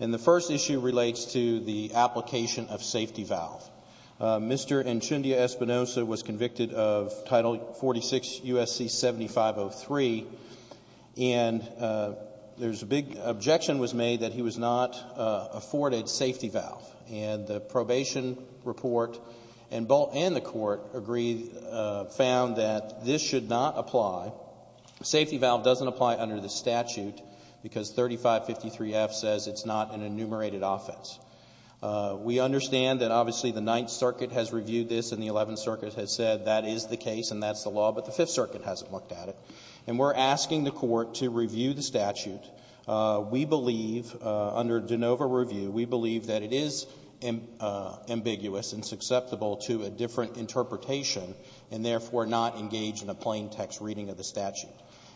and the first issue relates to the application of safety valve. Mr. Anchundia-Espinoza was convicted of Title 46 U.S.C. 7503 and there's a big objection was made that he was not afforded safety valve and the probation report and the court agreed found that this should not apply. Safety 553F says it's not an enumerated offense. We understand that obviously the Ninth Circuit has reviewed this and the Eleventh Circuit has said that is the case and that's the law, but the Fifth Circuit hasn't looked at it. And we're asking the court to review the statute. We believe under de novo review, we believe that it is ambiguous and susceptible to a different interpretation and therefore not engage in a plain text reading of the statute.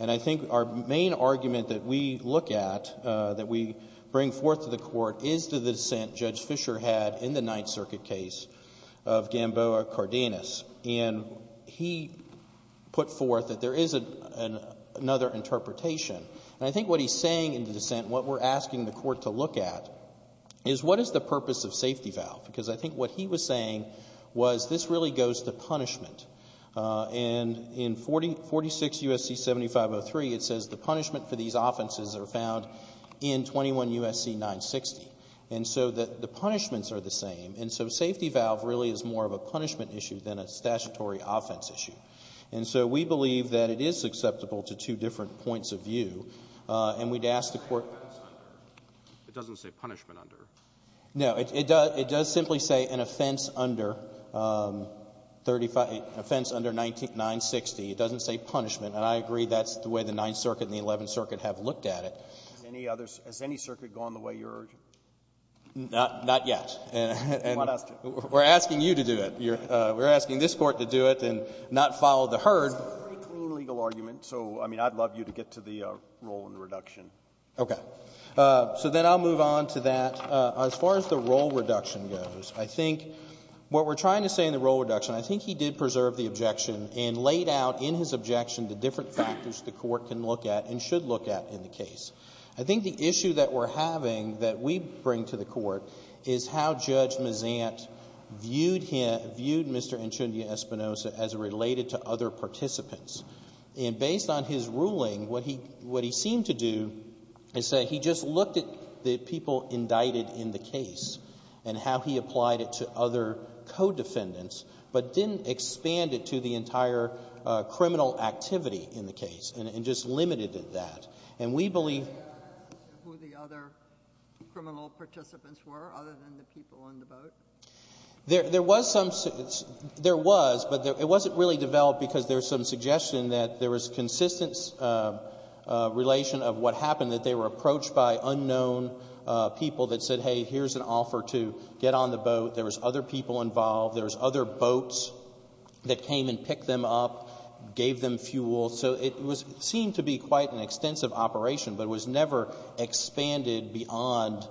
And I think our main argument that we look at that we bring forth to the court is to the dissent Judge Fischer had in the Ninth Circuit case of Gamboa Cardenas. And he put forth that there is another interpretation. And I think what he's saying in the dissent, what we're asking the court to look at is what is the purpose of safety valve? Because I think what he was saying was this really goes to punishment. And in 46 U.S.C. 7503, it says the punishment for these offenses are found in 21 U.S.C. 960. And so the punishments are the same. And so safety valve really is more of a punishment issue than a statutory offense issue. And so we believe that it is susceptible to two different points of view. And we'd ask the court to do that. Roberts. It doesn't say punishment under. Miller. No. It does simply say an offense under 35 — offense under 960. It doesn't say punishment. And I agree that's the way the Ninth Circuit and the Eleventh Circuit have looked at it. Has any other — has any circuit gone the way you're urging? Not — not yet. And we're asking you to do it. We're asking this Court to do it and not follow the herd. It's a pretty clean legal argument. So, I mean, I'd love you to get to the roll and reduction. Okay. So then I'll move on to that. As far as the roll reduction goes, I think what we're trying to say in the roll reduction, I think he did preserve the objection and laid out in his objection the different factors the Court can look at and should look at in the case. I think the issue that we're having that we bring to the Court is how Judge Mazant viewed him — viewed Mr. Enchindia-Espinosa as related to other participants. And based on his ruling, what he — what he seemed to do is say he just looked at the people indicted in the case and how he applied it to other co-defendants, but didn't expand it to the entire criminal activity in the case, and just limited it that. And we believe — Who the other criminal participants were, other than the people on the boat? There — there was some — there was, but it wasn't really developed because there was some suggestion that there was consistent relation of what happened, that they were approached by unknown people that said, hey, here's an offer to get on the boat. There was other people involved. There was other boats that came and picked them up, gave them fuel. So it was — seemed to be quite an extensive operation, but it was never expanded beyond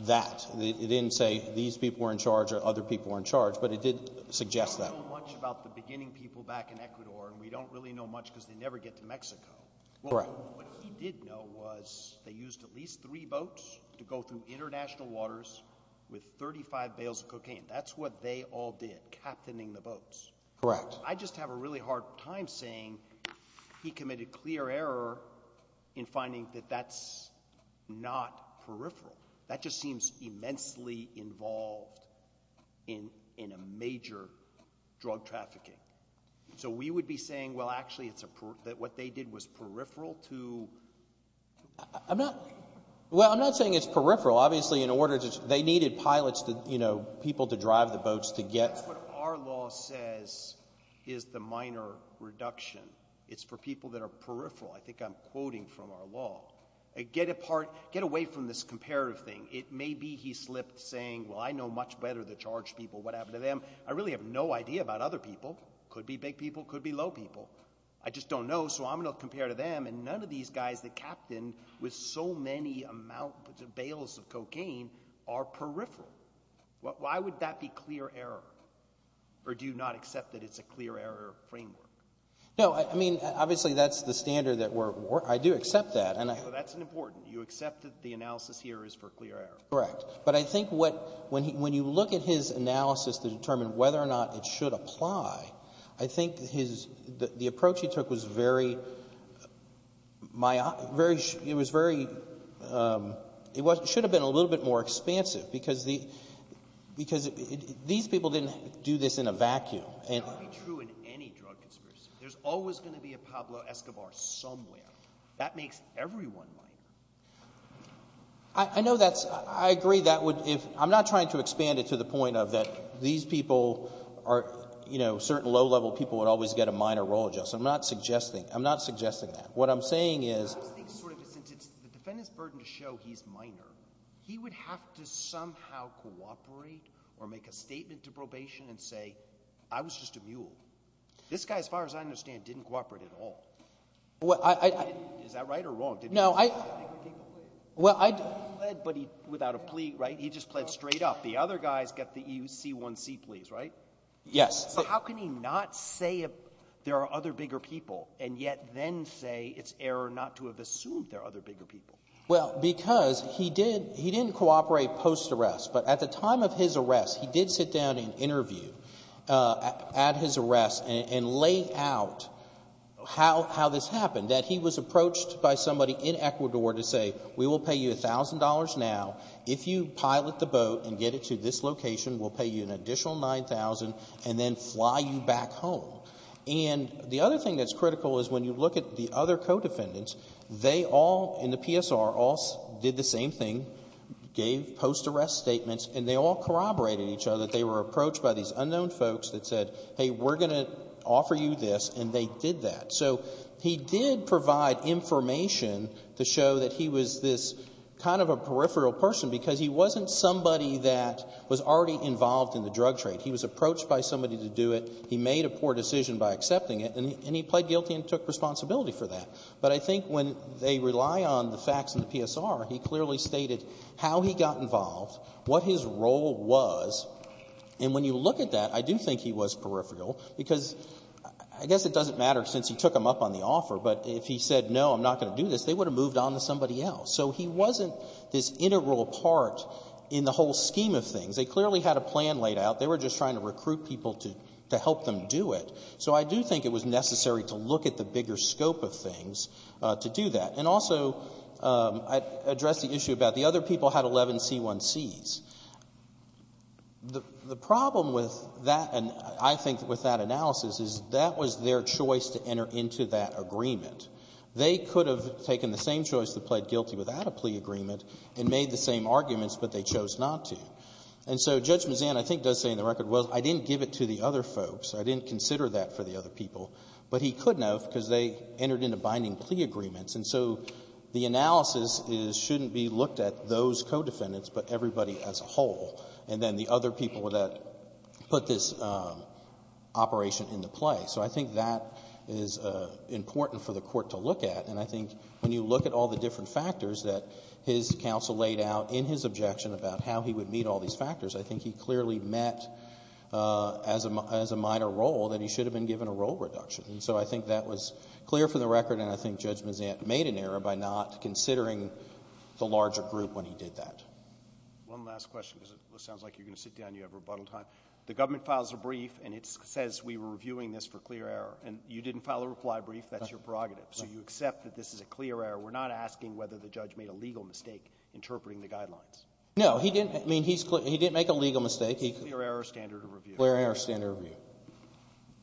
that. It didn't say these people were in charge or other people were in charge, but it did suggest that. We don't know much about the beginning people back in Ecuador, and we don't really know much because they never get to Mexico. Correct. What he did know was they used at least three boats to go through international waters with 35 bales of cocaine. That's what they all did, captaining the boats. Correct. I just have a really hard time saying he committed clear error in finding that that's not peripheral. That just seems immensely involved in — in a major drug trafficking. So we would be saying, well, actually it's a — that what they did was peripheral to — obviously in order to — they needed pilots to, you know, people to drive the boats to get — That's what our law says is the minor reduction. It's for people that are peripheral. I think I'm quoting from our law. Get apart — get away from this comparative thing. It may be he slipped, saying, well, I know much better the charge people, what happened to them. I really have no idea about other people. Could be big people, could be low people. I just don't know, so I'm going to compare to them. And none of these guys that captained with so many amount — bales of cocaine are peripheral. Why would that be clear error? Or do you not accept that it's a clear error framework? No, I mean, obviously that's the standard that we're — I do accept that. And I — That's important. You accept that the analysis here is for clear error. Correct. But I think what — when you look at his analysis to determine whether or not it should apply, I think his — the approach he took was very — it was very — it should have been a little bit more expansive, because the — because these people didn't do this in a vacuum, and — It's got to be true in any drug conspiracy. There's always going to be a Pablo Escobar somewhere. That makes everyone like him. I know that's — I agree that would — I'm not trying to expand it to the point of that these people are — you know, certain low-level people would always get a minor role adjustment. I'm not suggesting — I'm not suggesting that. What I'm saying is — I was thinking sort of — since it's the defendant's burden to show he's minor, he would have to somehow cooperate or make a statement to probation and say, I was just a mule. This guy, as far as I understand, didn't cooperate at all. Well, I — Is that right or wrong? No, I — He didn't plead. Well, I — He didn't plead, but he — without a plea, right? He just pled straight up. The other guy's got the EUC1C pleas, right? Yes. So how can he not say there are other bigger people and yet then say it's error not to have assumed there are other bigger people? Well, because he did — he didn't cooperate post-arrest, but at the time of his arrest, he did sit down and interview at his arrest and lay out how this happened, that he was approached by somebody in Ecuador to say, we will pay you $1,000 now if you pilot the plane to this location. We'll pay you an additional $9,000 and then fly you back home. And the other thing that's critical is when you look at the other co-defendants, they all in the PSR all did the same thing, gave post-arrest statements, and they all corroborated each other. They were approached by these unknown folks that said, hey, we're going to offer you this, and they did that. So he did provide information to show that he was this kind of a peripheral person because he wasn't somebody that was already involved in the drug trade. He was approached by somebody to do it. He made a poor decision by accepting it, and he pled guilty and took responsibility for that. But I think when they rely on the facts in the PSR, he clearly stated how he got involved, what his role was, and when you look at that, I do think he was peripheral because — I guess it doesn't matter since he took them up on the offer, but if he said, no, I'm not going to do this, they would have moved on to somebody else. So he wasn't this integral part in the whole scheme of things. They clearly had a plan laid out. They were just trying to recruit people to help them do it. So I do think it was necessary to look at the bigger scope of things to do that. And also, I addressed the issue about the other people had 11 C1Cs. The problem with that, and I think with that analysis, is that was their choice to enter into that agreement. They could have taken the same choice to pled guilty without a plea agreement and made the same arguments, but they chose not to. And so Judge Mazzan, I think, does say in the record, well, I didn't give it to the other folks. I didn't consider that for the other people. But he couldn't have because they entered into binding plea agreements. And so the analysis is shouldn't be looked at those co-defendants, but everybody as a whole, and then the other people that put this operation into play. So I think that is important for the court to look at. And I think when you look at all the different factors that his counsel laid out in his objection about how he would meet all these factors, I think he clearly met as a minor role that he should have been given a role reduction. And so I think that was clear for the record, and I think Judge Mazzan made an error by not considering the larger group when he did that. One last question because it sounds like you're going to sit down and you have rebuttal time. The government files a brief and it says we were reviewing this for clear error. And you didn't file a reply brief. That's your prerogative. So you accept that this is a clear error. We're not asking whether the judge made a legal mistake interpreting the guidelines. No, he didn't. I mean, he's clear. He didn't make a legal mistake. It's a clear error standard of review. Clear error standard of review.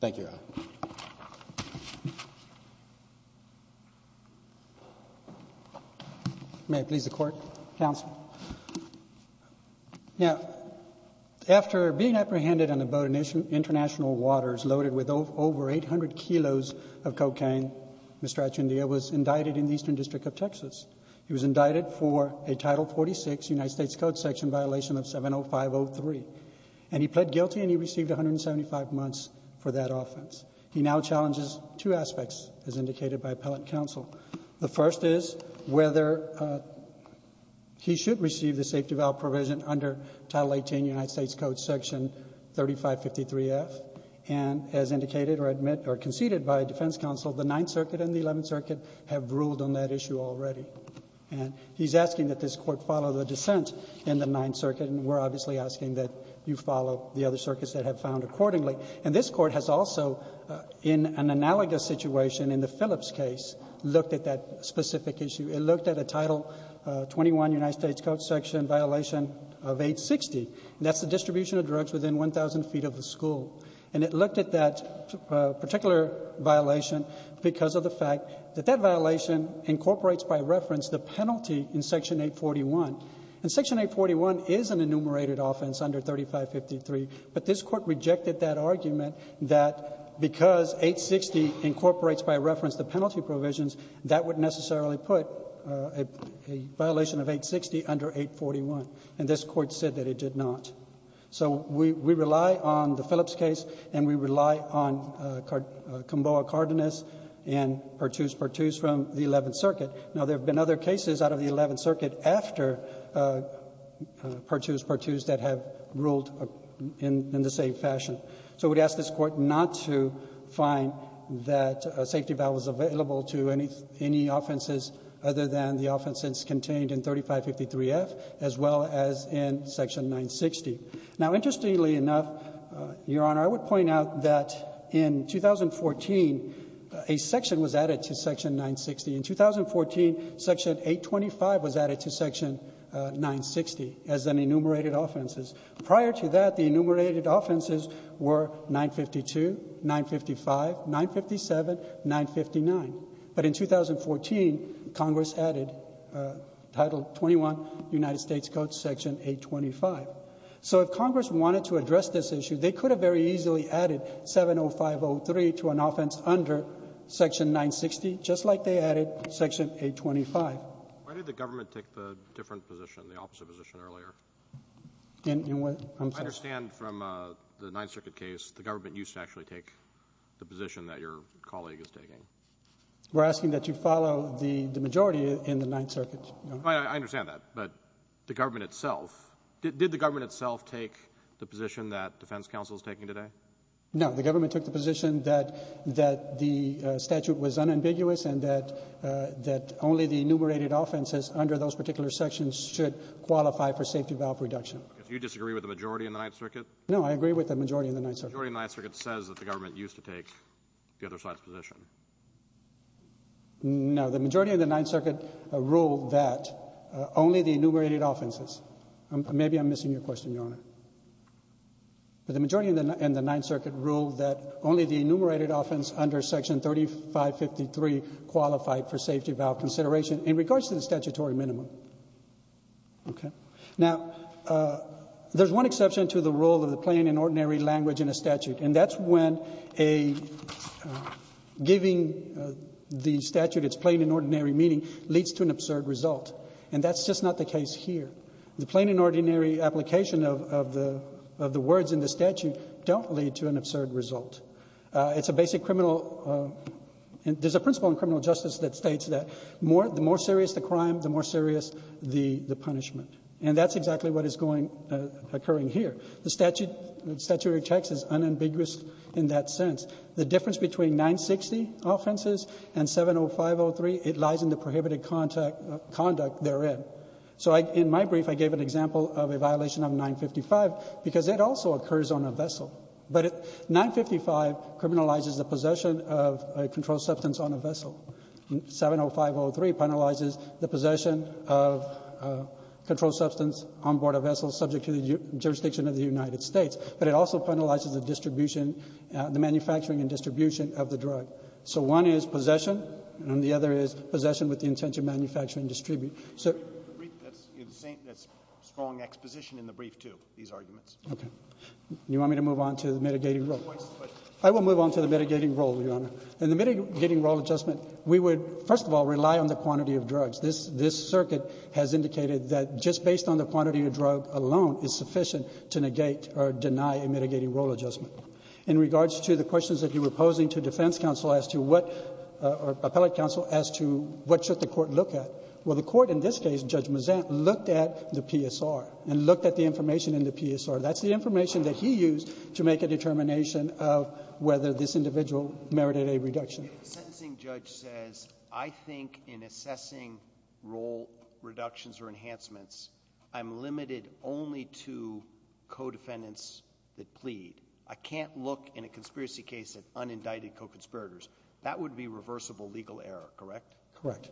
Thank you, Your Honor. May I please the Court? Counsel. Now, after being apprehended on a boat in international waters loaded with over 800 kilos of cocaine, Mr. Achundia was indicted in the Eastern District of Texas. He was indicted for a Title 46 United States Code section violation of 70503. And he pled guilty and he received 175 months for that offense. He now challenges two aspects, as indicated by appellate counsel. The first is whether he should receive the safety valve provision under Title 18 United States Code section 3553F. And as indicated or conceded by defense counsel, the Ninth Circuit and the Eleventh Circuit have ruled on that issue already. And he's asking that this Court follow the dissent in the Ninth Circuit. And we're obviously asking that you follow the other circuits that have found accordingly. And this Court has also, in an analogous situation in the Phillips case, looked at that specific issue. It looked at a Title 21 United States Code section violation of 860. That's the distribution of drugs within 1,000 feet of the school. And it looked at that particular violation because of the fact that that violation incorporates by reference the penalty in Section 841. And Section 841 is an enumerated offense under 3553. But this Court rejected that argument that because 860 incorporates by reference the penalty provisions, that would necessarily put a violation of 860 under 841. And this Court said that it did not. So we rely on the Phillips case, and we rely on Comboa-Cardenas and Pertuz-Pertuz from the Eleventh Circuit. Now, there have been other cases out of the Eleventh Circuit after Pertuz-Pertuz that have ruled in the same fashion. So we'd ask this Court not to find that a safety vial was available to any offenses other than the offenses contained in 3553F, as well as in Section 960. Now, interestingly enough, Your Honor, I would point out that in 2014, a section was added to Section 960. In 2014, Section 825 was added to Section 960 as an enumerated offenses. Prior to that, the enumerated offenses were 952, 955, 957, 959. But in 2014, Congress added Title 21, United States Code, Section 825. So if Congress wanted to address this issue, they could have very easily added 70503 to an offense under Section 960, just like they added Section 825. Why did the government take the different position, the opposite position earlier? In what? I'm sorry. I understand from the Ninth Circuit case, the government used to actually take the position that your colleague is taking. We're asking that you follow the majority in the Ninth Circuit, Your Honor. I understand that. But the government itself, did the government itself take the position that defense counsel is taking today? No. The government took the position that the statute was unambiguous and that only the enumerated offenses under those particular sections should qualify for safety valve reduction. Do you disagree with the majority in the Ninth Circuit? No. I agree with the majority in the Ninth Circuit. The majority in the Ninth Circuit says that the government used to take the other side's position. No. The majority in the Ninth Circuit ruled that only the enumerated offenses. Maybe I'm missing your question, Your Honor. But the majority in the Ninth Circuit ruled that only the enumerated offense under Section 3553 qualified for safety valve consideration in regards to the statutory minimum. Okay. Now, there's one exception to the rule of the plain and ordinary language in a statute. And that's when giving the statute its plain and ordinary meaning leads to an absurd result. And that's just not the case here. The plain and ordinary application of the words in the statute don't lead to an absurd result. It's a basic criminal and there's a principle in criminal justice that states that the more serious the crime, the more serious the punishment. And that's exactly what is occurring here. The statutory text is unambiguous in that sense. The difference between 960 offenses and 70503, it lies in the prohibited conduct therein. So in my brief, I gave an example of a violation of 955 because it also occurs on a vessel. But 955 criminalizes the possession of a controlled substance on a vessel. 70503 penalizes the possession of a controlled substance on board a vessel subject to the jurisdiction of the United States. But it also penalizes the distribution, the manufacturing and distribution of the drug. So one is possession and the other is possession with the intent to manufacture and distribute. That's strong exposition in the brief, too, these arguments. Okay. You want me to move on to the mitigating role? I will move on to the mitigating role, Your Honor. In the mitigating role adjustment, we would, first of all, rely on the quantity of drugs. This circuit has indicated that just based on the quantity of drug alone is sufficient to negate or deny a mitigating role adjustment. In regards to the questions that you were posing to defense counsel as to what, or appellate counsel, as to what should the court look at. Well, the court in this case, Judge Mazzant, looked at the PSR and looked at the information in the PSR. That's the information that he used to make a determination of whether this individual merited a reduction. If the sentencing judge says, I think in assessing role reductions or enhancements, I'm limited only to co-defendants that plead, I can't look in a conspiracy case at unindicted co-conspirators, that would be reversible legal error, correct? Correct.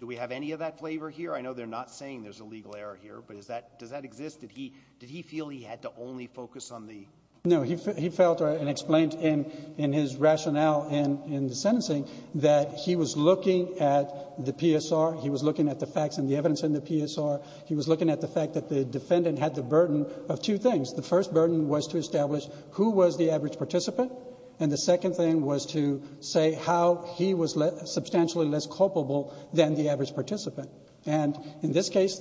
Do we have any of that flavor here? I know they're not saying there's a legal error here, but does that exist? Did he feel he had to only focus on the? No, he felt and explained in his rationale in the sentencing that he was looking at the PSR, he was looking at the facts and the evidence in the PSR, he was looking at the fact that the defendant had the burden of two things. The first burden was to establish who was the average participant, and the second thing was to say how he was substantially less culpable than the average participant, and in this case,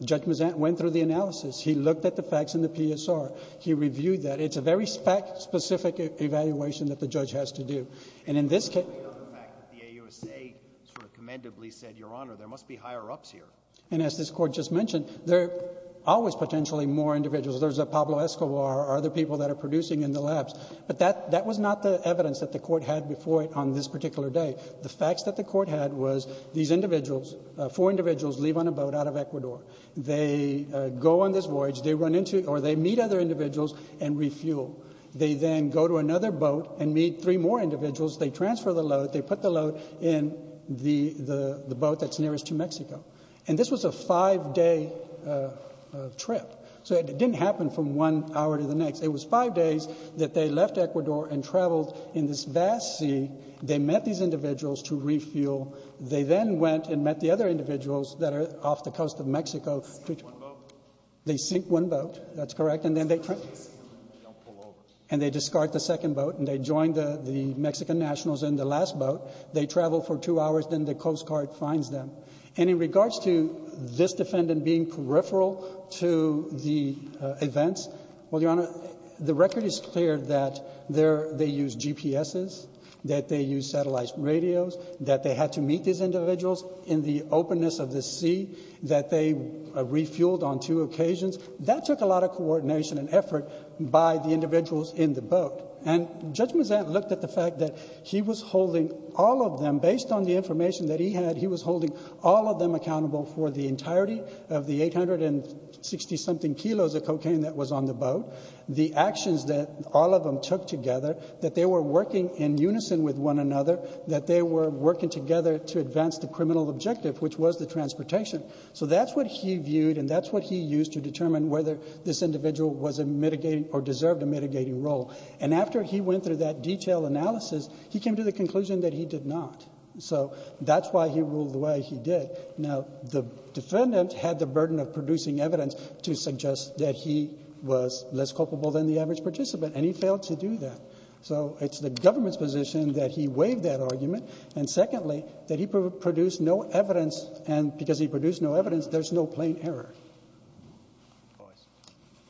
Judge Mazzant went through the analysis. He looked at the facts in the PSR. He reviewed that. It's a very specific evaluation that the judge has to do, and in this case... The fact that the AUSA sort of commendably said, Your Honor, there must be higher ups here. And as this Court just mentioned, there are always potentially more individuals. There's a Pablo Escobar or other people that are producing in the labs, but that was not the evidence that the Court had before it on this particular day. The facts that the Court had was these individuals, four individuals leave on a boat out of Ecuador. They go on this voyage. They run into, or they meet other individuals and refuel. They then go to another boat and meet three more individuals. They transfer the load. They put the load in the boat that's nearest to Mexico. And this was a five-day trip, so it didn't happen from one hour to the next. It was five days that they left Ecuador and traveled in this vast sea. They met these individuals to refuel. They then went and met the other individuals that are off the coast of Mexico. They sink one boat. They sink one boat. That's correct. And then they... And they don't pull over. And they discard the second boat, and they join the Mexican nationals in the last boat. They travel for two hours. Then the Coast Guard finds them. And in regards to this defendant being peripheral to the events, well, Your Honor, the record is clear that they used GPSs, that they used satellite radios, that they had to meet these individuals in the openness of the sea, that they refueled on two occasions. That took a lot of coordination and effort by the individuals in the boat. And Judge Mazzant looked at the fact that he was holding all of them. Based on the information that he had, he was holding all of them accountable for the entirety of the 860-something kilos of cocaine that was on the boat. The actions that all of them took together, that they were working in unison with one another, that they were working together to advance the criminal objective, which was the transportation. So that's what he viewed, and that's what he used to determine whether this individual was a mitigating or deserved a mitigating role. And after he went through that detailed analysis, he came to the conclusion that he did not. So that's why he ruled the way he did. Now, the defendant had the burden of producing evidence to suggest that he was less culpable than the average participant, and he failed to do that. So it's the government's position that he waived that argument, and secondly, that he produced no evidence, and because he produced no evidence, there's no plain error. Roberts.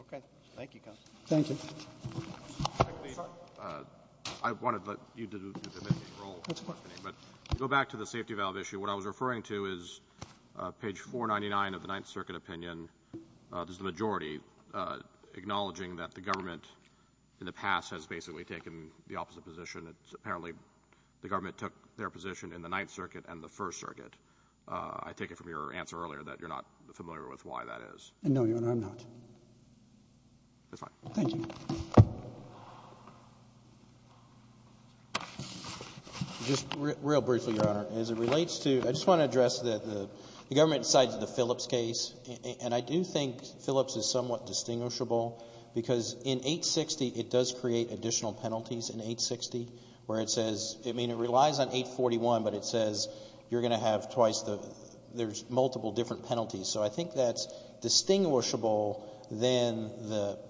Okay. Thank you, counsel. Thank you. I wanted you to do the mitigating role. What's the question? I'm assuming that the government, in the past, has basically taken the opposite position. It's apparently the government took their position in the Ninth Circuit and the First Circuit. I take it from your answer earlier that you're not familiar with why that is. No, Your Honor, I'm not. That's fine. Thank you. Just real briefly, Your Honor, as it relates to — I just want to address that the government decides the Phillips case, and I do think Phillips is somewhat distinguishable, because in 860 it does create additional penalties in 860, where it says — I mean, it relies on 841, but it says you're going to have twice the — there's multiple different penalties. So I think that's distinguishable than the —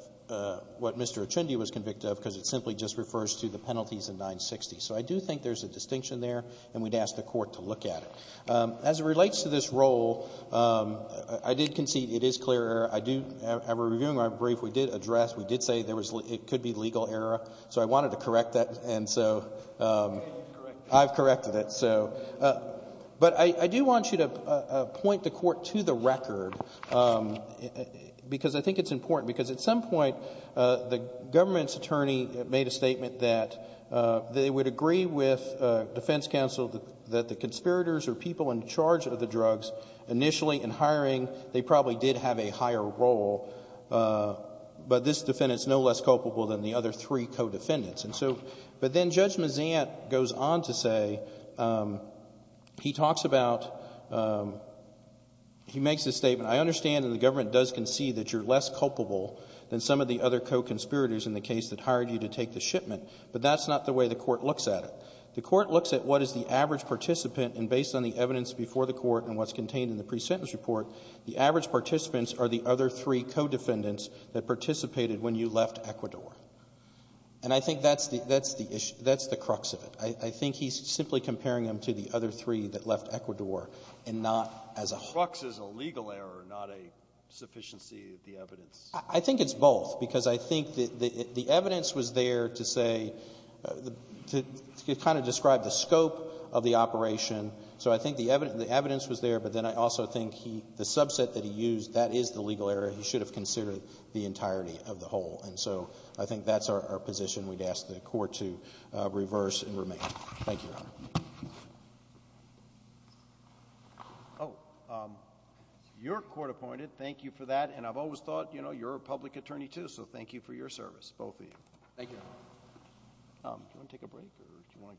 what Mr. Ochendi was convict of, because it simply just refers to the penalties in 960. So I do think there's a distinction there, and we'd ask the Court to look at it. As it relates to this role, I did concede it is clear error. I do — in reviewing our brief, we did address — we did say there was — it could be legal error. So I wanted to correct that, and so I've corrected it. But I do want you to point the Court to the record, because I think it's important. Because at some point, the government's attorney made a statement that they would agree with defense counsel that the conspirators or people in charge of the drugs initially in hiring, they probably did have a higher role, but this defendant's no less culpable than the other three co-defendants. And so — but then Judge Mazant goes on to say — he talks about — he makes this statement, I understand that the government does concede that you're less culpable than some of the other co-conspirators in the case that hired you to take the shipment, but that's not the way the Court looks at it. The Court looks at what is the average participant, and based on the evidence before the Court and what's contained in the pre-sentence report, the average participants are the other three co-defendants that participated when you left Ecuador. And I think that's the — that's the issue. That's the crux of it. I think he's simply comparing them to the other three that left Ecuador and not as a whole. Breyer. The crux is a legal error, not a sufficiency of the evidence. Verrilli, I think it's both, because I think that the evidence was there to say — to kind of describe the scope of the operation. So I think the evidence was there, but then I also think he — the subset that he used, that is the legal error. He should have considered the entirety of the whole. And so I think that's our position. We'd ask the Court to reverse and remain. Thank you, Your Honor. Oh, you're court-appointed. Thank you for that, and I've always thought, you know, you're a public attorney, too, so thank you for your service, both of you. Thank you, Your Honor.